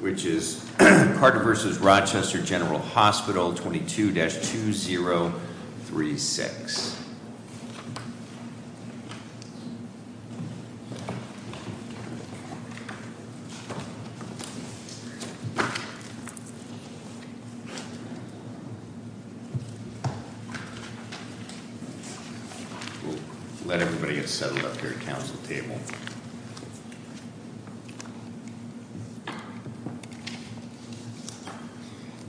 which is Carter v. Rochester General Hospital, 22-2036. We'll let everybody get settled up here at the council table.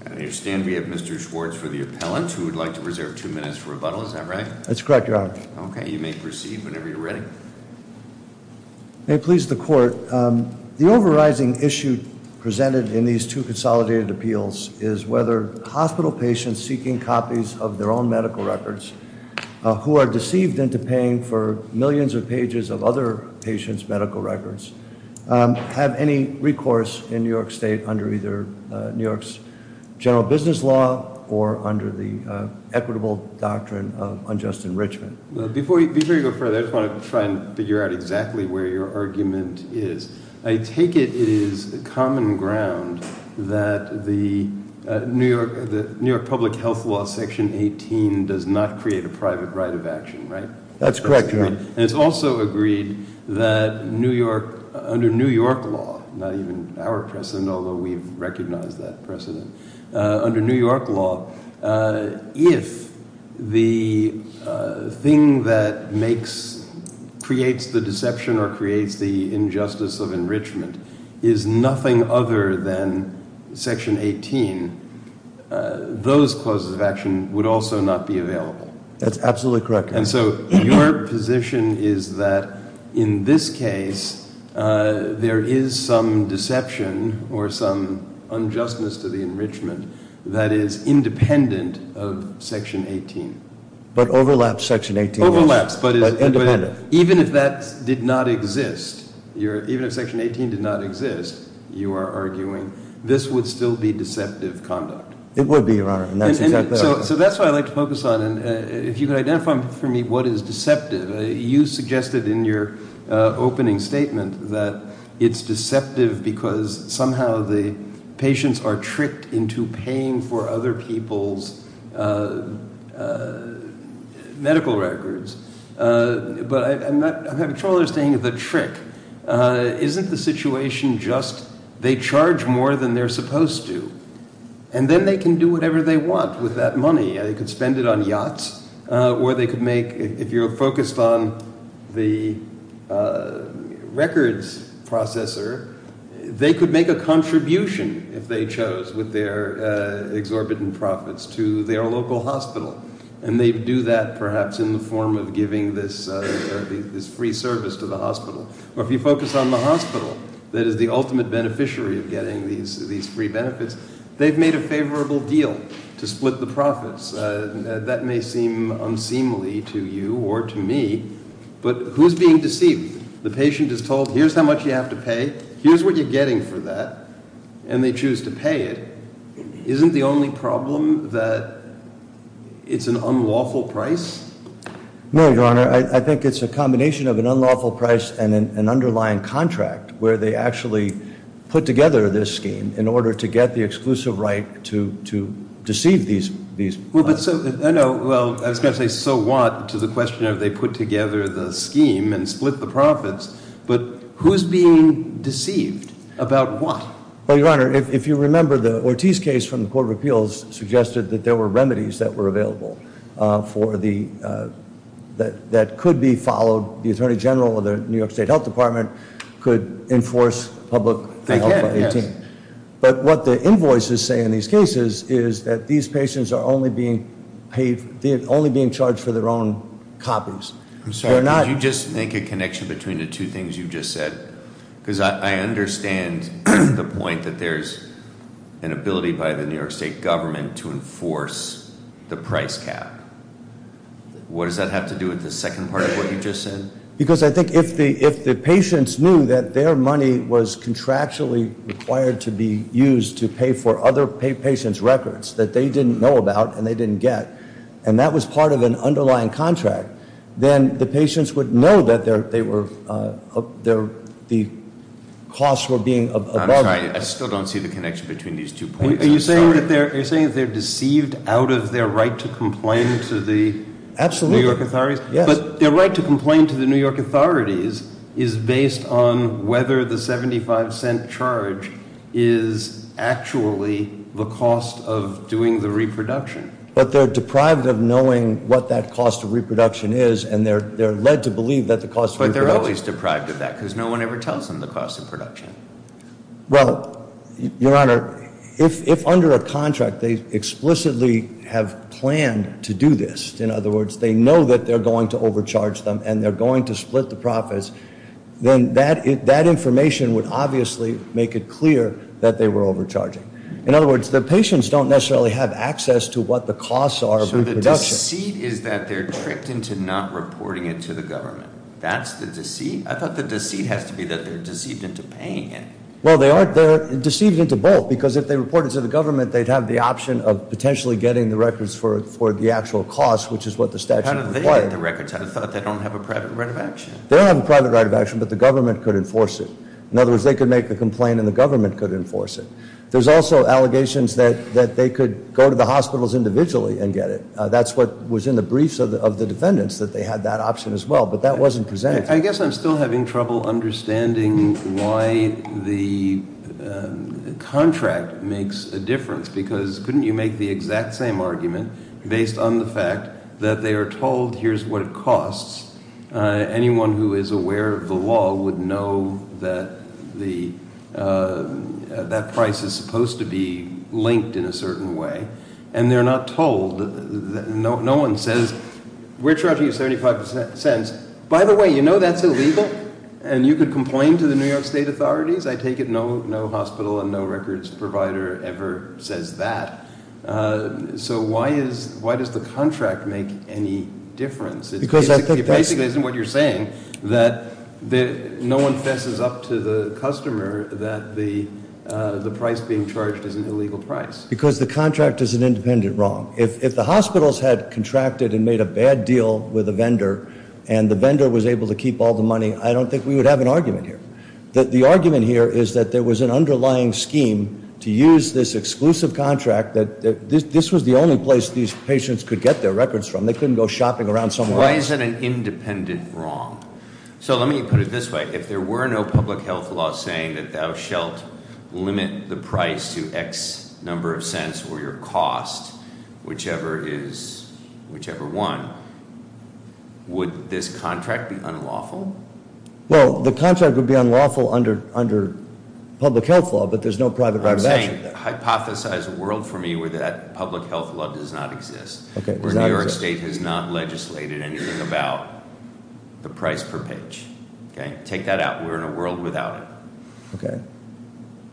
I understand we have Mr. Schwartz for the appellant who would like to reserve two minutes for rebuttal, is that right? That's correct, Your Honor. Okay, you may proceed whenever you're ready. May it please the court, the overriding issue presented in these two consolidated appeals is whether hospital patients seeking copies of their own medical records who are deceived into paying for millions of pages of other patients' medical records have any recourse in New York State under either New York's general business law or under the equitable doctrine of unjust enrichment. Before you go further, I just want to try and figure out exactly where your argument is. I take it it is common ground that the New York public health law section 18 does not create a private right of action, right? That's correct, Your Honor. And it's also agreed that under New York law, not even our precedent, although we've recognized that precedent. Under New York law, if the thing that creates the deception or creates the injustice of enrichment is nothing other than section 18, those clauses of action would also not be available. That's absolutely correct, Your Honor. in this case, there is some deception or some unjustness to the enrichment that is independent of section 18. But overlaps section 18. Overlaps, but even if that did not exist, even if section 18 did not exist, you are arguing this would still be deceptive conduct. It would be, Your Honor, and that's exactly right. So that's what I'd like to focus on. If you could identify for me what is deceptive. You suggested in your opening statement that it's deceptive because somehow the patients are tricked into paying for other people's medical records. But I have a strong understanding of the trick. Isn't the situation just they charge more than they're supposed to, and then they can do whatever they want with that money. They could spend it on yachts, or they could make, if you're focused on the records processor, they could make a contribution, if they chose, with their exorbitant profits to their local hospital. And they do that perhaps in the form of giving this free service to the hospital. Or if you focus on the hospital that is the ultimate beneficiary of getting these free benefits, they've made a favorable deal to split the profits. That may seem unseemly to you or to me, but who's being deceived? The patient is told here's how much you have to pay, here's what you're getting for that, and they choose to pay it. Isn't the only problem that it's an unlawful price? No, Your Honor, I think it's a combination of an unlawful price and an underlying contract where they actually put together this scheme in order to get the exclusive right to deceive these people. Well, I was going to say so what to the question of they put together the scheme and split the profits, but who's being deceived about what? Well, Your Honor, if you remember the Ortiz case from the Court of Appeals suggested that there were remedies that were available that could be followed. The Attorney General of the New York State Health Department could enforce public health by 18. They can, yes. But what the invoices say in these cases is that these patients are only being paid, they're only being charged for their own copies. I'm sorry, could you just make a connection between the two things you just said? Because I understand the point that there's an ability by the New York State government to enforce the price cap. What does that have to do with the second part of what you just said? Because I think if the patients knew that their money was contractually required to be used to pay for other patients' records that they didn't know about and they didn't get, and that was part of an underlying contract, then the patients would know that the costs were being- I'm sorry, I still don't see the connection between these two points, I'm sorry. Are you saying that they're deceived out of their right to complain to the New York authorities? Absolutely, yes. But their right to complain to the New York authorities is based on whether the 75 cent charge is actually the cost of doing the reproduction. But they're deprived of knowing what that cost of reproduction is and they're led to believe that the cost of reproduction- But they're always deprived of that because no one ever tells them the cost of production. Well, Your Honor, if under a contract they explicitly have planned to do this, in other words, they know that they're going to overcharge them and they're going to split the profits, then that information would obviously make it clear that they were overcharging. In other words, the patients don't necessarily have access to what the costs are of reproduction. So the deceit is that they're tricked into not reporting it to the government. That's the deceit? I thought the deceit has to be that they're deceived into paying it. Well, they aren't. They're deceived into both because if they reported it to the government, they'd have the option of potentially getting the records for the actual cost, which is what the statute requires. How did they get the records? I thought they don't have a private right of action. They don't have a private right of action, but the government could enforce it. In other words, they could make the complaint and the government could enforce it. There's also allegations that they could go to the hospitals individually and get it. That's what was in the briefs of the defendants, that they had that option as well, but that wasn't presented. I guess I'm still having trouble understanding why the contract makes a difference because couldn't you make the exact same argument based on the fact that they are told here's what it costs? Anyone who is aware of the law would know that that price is supposed to be linked in a certain way. And they're not told. No one says, we're charging you 75 cents. By the way, you know that's illegal? And you could complain to the New York State authorities? I take it no hospital and no records provider ever says that. So why does the contract make any difference? It basically isn't what you're saying. No one fesses up to the customer that the price being charged is an illegal price. Because the contract is an independent wrong. If the hospitals had contracted and made a bad deal with a vendor and the vendor was able to keep all the money, I don't think we would have an argument here. The argument here is that there was an underlying scheme to use this exclusive contract. This was the only place these patients could get their records from. They couldn't go shopping around somewhere else. Why is it an independent wrong? So let me put it this way. If there were no public health law saying that thou shalt limit the price to X number of cents or your cost, whichever is, whichever one, would this contract be unlawful? Well, the contract would be unlawful under public health law, but there's no private driver's action. Hypothesize a world for me where that public health law does not exist. Where New York State has not legislated anything about the price per page. Take that out. We're in a world without it.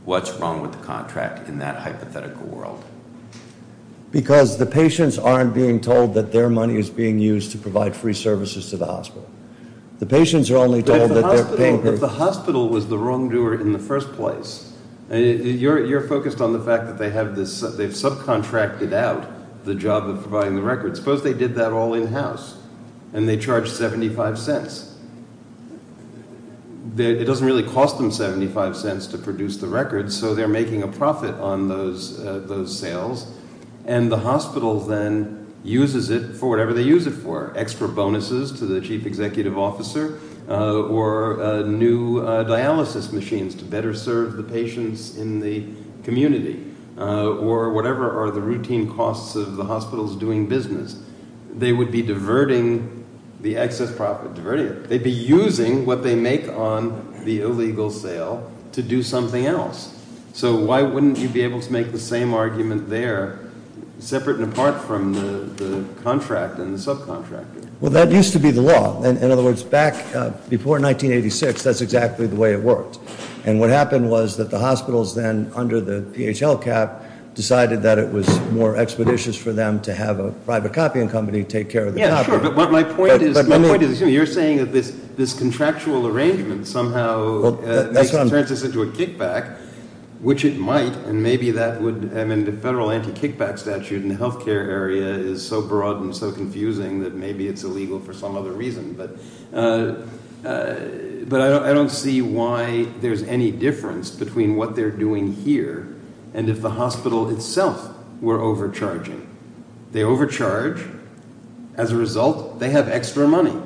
What's wrong with the contract in that hypothetical world? Because the patients aren't being told that their money is being used to provide free services to the hospital. The patients are only told that they're paying- If the hospital was the wrongdoer in the first place, you're focused on the fact that they've subcontracted out the job of providing the records. Suppose they did that all in-house and they charged 75 cents. It doesn't really cost them 75 cents to produce the records, so they're making a profit on those sales, and the hospital then uses it for whatever they use it for, to the chief executive officer, or new dialysis machines to better serve the patients in the community, or whatever are the routine costs of the hospitals doing business. They would be diverting the excess profit. They'd be using what they make on the illegal sale to do something else. So why wouldn't you be able to make the same argument there, separate and apart from the contract and the subcontractor? Well, that used to be the law. In other words, back before 1986, that's exactly the way it worked. And what happened was that the hospitals then, under the PHL cap, decided that it was more expeditious for them to have a private copying company take care of the copy. Sure, but my point is, you're saying that this contractual arrangement somehow turns this into a kickback, which it might, and maybe that would, I mean, the federal anti-kickback statute in the healthcare area is so broad and so confusing that maybe it's illegal for some other reason. But I don't see why there's any difference between what they're doing here and if the hospital itself were overcharging. They overcharge. As a result, they have extra money.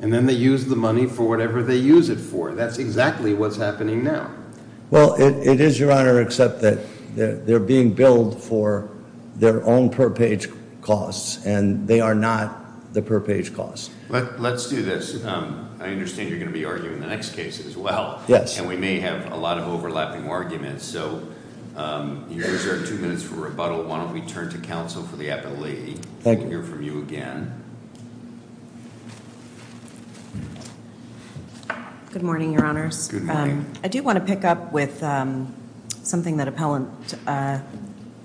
And then they use the money for whatever they use it for. That's exactly what's happening now. Well, it is, Your Honor, except that they're being billed for their own per-page costs, and they are not the per-page costs. Let's do this. I understand you're going to be arguing the next case as well. Yes. And we may have a lot of overlapping arguments. So here's our two minutes for rebuttal. Why don't we turn to counsel for the appellate. Thank you. We'll hear from you again. Good morning, Your Honors. Good morning. I do want to pick up with something that Appellant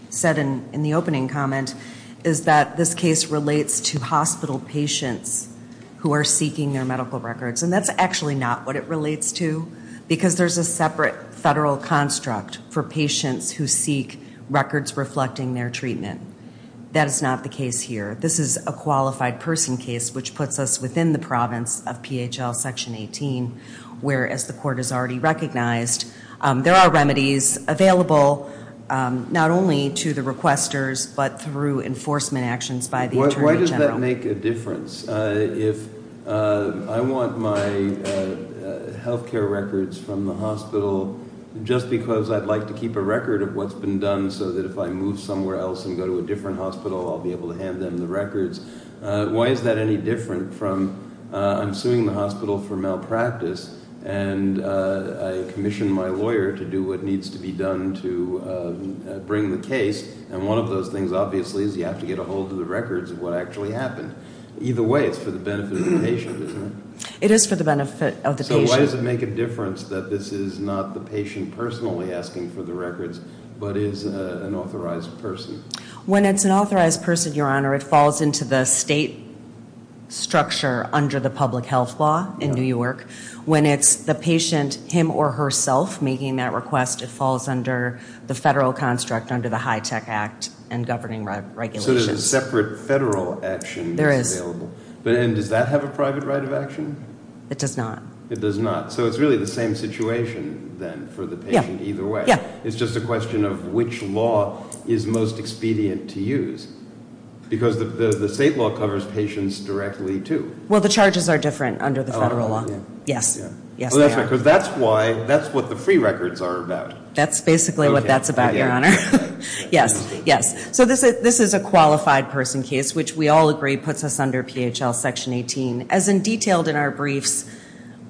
said in the opening comment, is that this case relates to hospital patients who are seeking their medical records. And that's actually not what it relates to, because there's a separate federal construct for patients who seek records reflecting their treatment. That is not the case here. This is a qualified person case, which puts us within the province of PHL Section 18, where, as the Court has already recognized, there are remedies available not only to the requesters but through enforcement actions by the Attorney General. Why does that make a difference? If I want my health care records from the hospital just because I'd like to keep a record of what's been done so that if I move somewhere else and go to a different hospital, I'll be able to hand them the records, why is that any different from I'm suing the hospital for malpractice and I commission my lawyer to do what needs to be done to bring the case, and one of those things, obviously, is you have to get a hold of the records of what actually happened. Either way, it's for the benefit of the patient, isn't it? It is for the benefit of the patient. So why does it make a difference that this is not the patient personally asking for the records but is an authorized person? When it's an authorized person, Your Honor, it falls into the state structure under the public health law in New York. When it's the patient him or herself making that request, it falls under the federal construct under the HITECH Act and governing regulations. So there's a separate federal action that's available. There is. And does that have a private right of action? It does not. It does not. So it's really the same situation then for the patient either way. Yeah. It's just a question of which law is most expedient to use because the state law covers patients directly too. Well, the charges are different under the federal law. Yes. Yes, they are. Because that's what the free records are about. That's basically what that's about, Your Honor. Yes. Yes. So this is a qualified person case, which we all agree puts us under PHL Section 18. As in detailed in our briefs,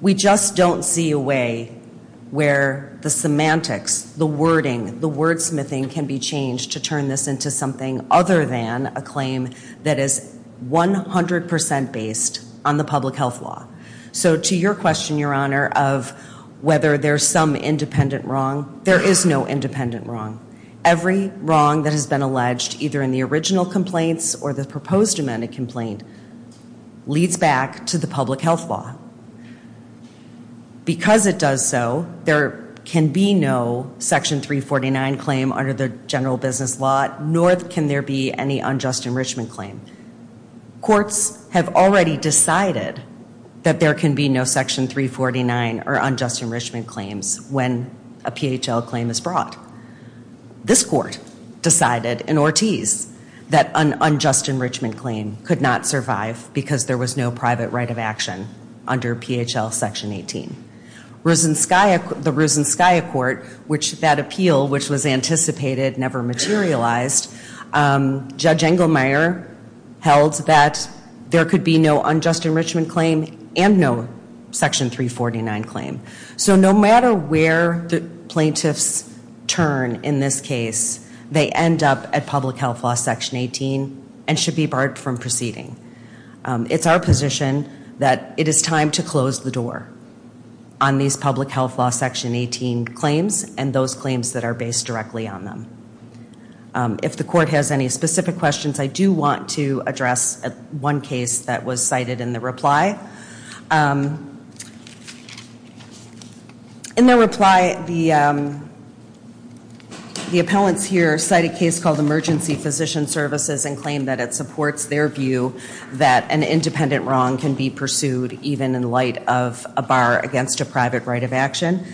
we just don't see a way where the semantics, the wording, the wordsmithing can be changed to turn this into something other than a claim that is 100% based on the public health law. So to your question, Your Honor, of whether there's some independent wrong, there is no independent wrong. Every wrong that has been alleged either in the original complaints or the proposed amended complaint leads back to the public health law. Because it does so, there can be no Section 349 claim under the general business law, nor can there be any unjust enrichment claim. Courts have already decided that there can be no Section 349 or unjust enrichment claims when a PHL claim is brought. This court decided in Ortiz that an unjust enrichment claim could not survive because there was no private right of action under PHL Section 18. The Rusinskaya Court, which that appeal, which was anticipated, never materialized, Judge Engelmeyer held that there could be no unjust enrichment claim and no Section 349 claim. So no matter where the plaintiffs turn in this case, they end up at public health law Section 18 and should be barred from proceeding. It's our position that it is time to close the door on these public health law Section 18 claims and those claims that are based directly on them. If the court has any specific questions, I do want to address one case that was cited in the reply. In their reply, the appellants here cite a case called Emergency Physician Services and claim that it supports their view that an independent wrong can be pursued even in light of a bar against a private right of action.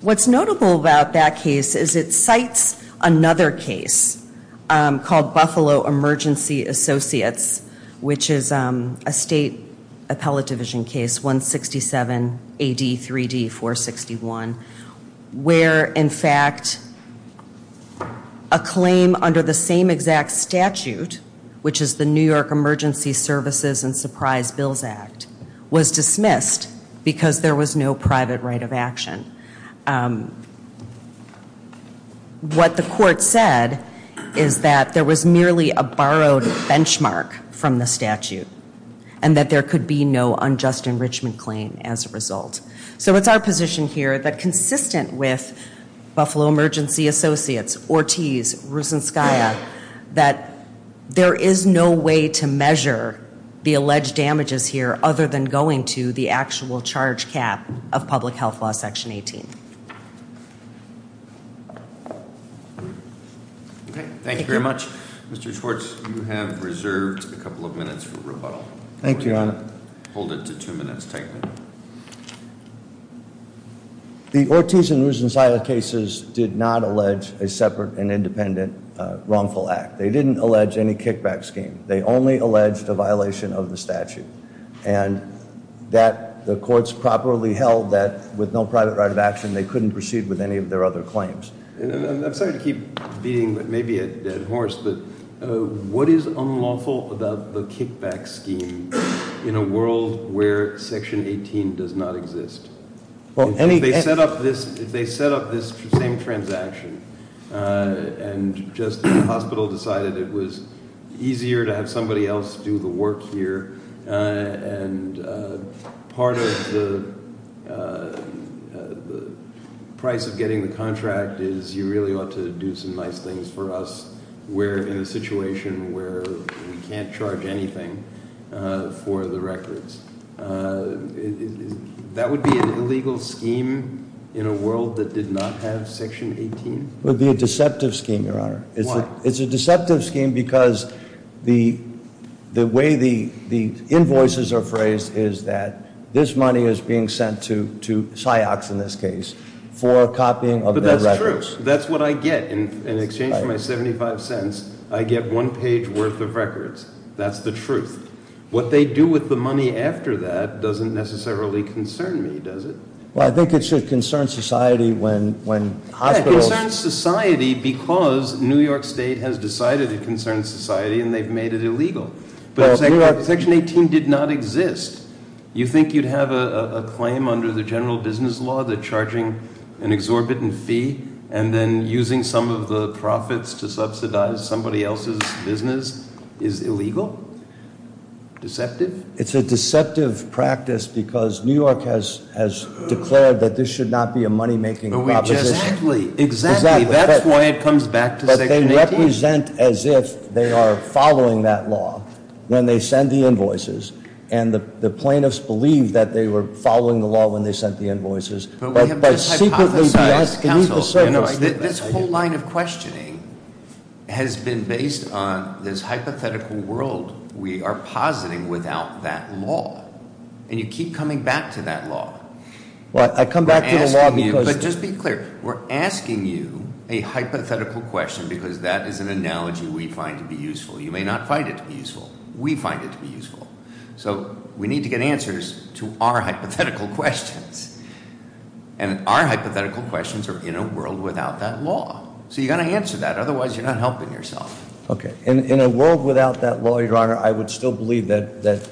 What's notable about that case is it cites another case called Buffalo Emergency Associates, which is a state appellate division case, 167 AD 3D 461. Where, in fact, a claim under the same exact statute, which is the New York Emergency Services and Surprise Bills Act, was dismissed because there was no private right of action. What the court said is that there was merely a borrowed benchmark from the statute and that there could be no unjust enrichment claim as a result. So it's our position here that consistent with Buffalo Emergency Associates, Ortiz, Rusinskaya, that there is no way to measure the alleged damages here other than going to the actual charge cap of public health law section 18. Okay, thank you very much. Mr. Schwartz, you have reserved a couple of minutes for rebuttal. Thank you, Your Honor. Hold it to two minutes, take me. The Ortiz and Rusinskaya cases did not allege a separate and independent wrongful act. They didn't allege any kickback scheme. They only alleged a violation of the statute and that the courts properly held that with no private right of action, they couldn't proceed with any of their other claims. I'm sorry to keep beating maybe a dead horse, but what is unlawful about the kickback scheme in a world where section 18 does not exist? If they set up this same transaction, and just the hospital decided it was easier to have somebody else do the work here, and part of the price of getting the contract is you really ought to do some nice things for us. We're in a situation where we can't charge anything for the records. That would be an illegal scheme in a world that did not have section 18? It would be a deceptive scheme, Your Honor. Why? It's a deceptive scheme because the way the invoices are phrased is that this money is being sent to Cyox in this case for copying of their records. But that's true. That's what I get in exchange for my 75 cents. I get one page worth of records. That's the truth. What they do with the money after that doesn't necessarily concern me, does it? Well, I think it should concern society when hospitals- The state has decided it concerns society and they've made it illegal. But section 18 did not exist. You think you'd have a claim under the general business law that charging an exorbitant fee and then using some of the profits to subsidize somebody else's business is illegal? Deceptive? It's a deceptive practice because New York has declared that this should not be a money making proposition. Exactly. Exactly. That's why it comes back to section 18. But they represent as if they are following that law when they send the invoices, and the plaintiffs believe that they were following the law when they sent the invoices. But we have hypothesized, counsel, this whole line of questioning has been based on this hypothetical world we are positing without that law. And you keep coming back to that law. I come back to the law because- A hypothetical question because that is an analogy we find to be useful. You may not find it to be useful. We find it to be useful. So we need to get answers to our hypothetical questions. And our hypothetical questions are in a world without that law. So you've got to answer that. Otherwise, you're not helping yourself. Okay. In a world without that law, Your Honor, I would still believe that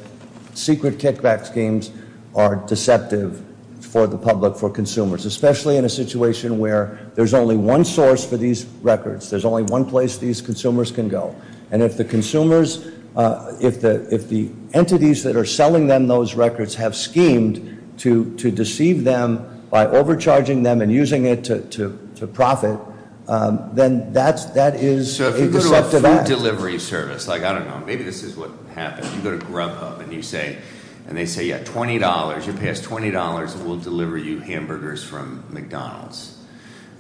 secret kickback schemes are deceptive for the public, for consumers. Especially in a situation where there's only one source for these records. There's only one place these consumers can go. And if the consumers, if the entities that are selling them those records have schemed to deceive them by overcharging them and using it to profit, then that is a deceptive act. So if you go to a food delivery service, like, I don't know, maybe this is what happens. You go to Grubhub and you say, and they say, yeah, $20. You pay us $20 and we'll deliver you hamburgers from McDonald's.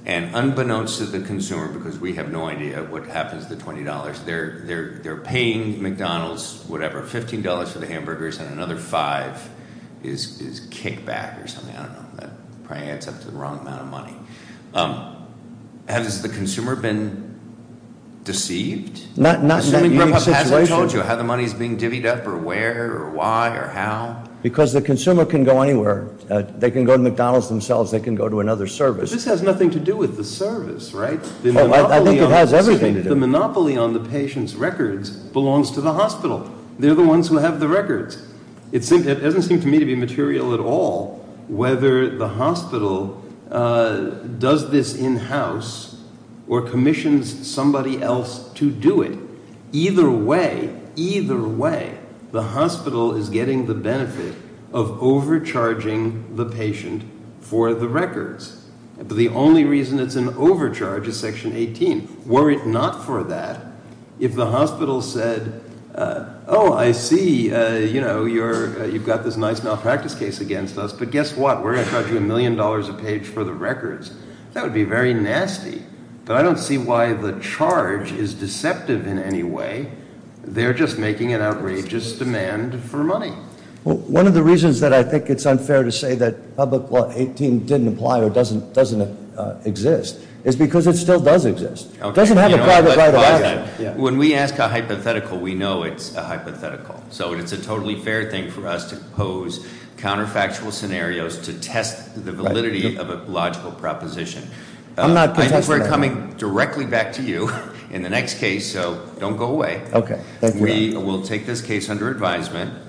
And unbeknownst to the consumer, because we have no idea what happens to the $20, they're paying McDonald's whatever, $15 for the hamburgers and another $5 is kickback or something. I don't know. That probably adds up to the wrong amount of money. Has the consumer been deceived? Not in that Grubhub situation. I told you how the money is being divvied up or where or why or how. Because the consumer can go anywhere. They can go to McDonald's themselves. They can go to another service. But this has nothing to do with the service, right? I think it has everything to do. The monopoly on the patient's records belongs to the hospital. They're the ones who have the records. It doesn't seem to me to be material at all whether the hospital does this in-house or commissions somebody else to do it. Either way, either way, the hospital is getting the benefit of overcharging the patient for the records. The only reason it's an overcharge is Section 18. Were it not for that, if the hospital said, oh, I see, you know, you've got this nice malpractice case against us. But guess what? We're going to charge you a million dollars a page for the records. That would be very nasty. But I don't see why the charge is deceptive in any way. They're just making an outrageous demand for money. One of the reasons that I think it's unfair to say that Public Law 18 didn't apply or doesn't exist is because it still does exist. It doesn't have a private right of action. When we ask a hypothetical, we know it's a hypothetical. So it's a totally fair thing for us to pose counterfactual scenarios to test the validity of a logical proposition. I know we're coming directly back to you in the next case, so don't go away. We will take this case under advisement.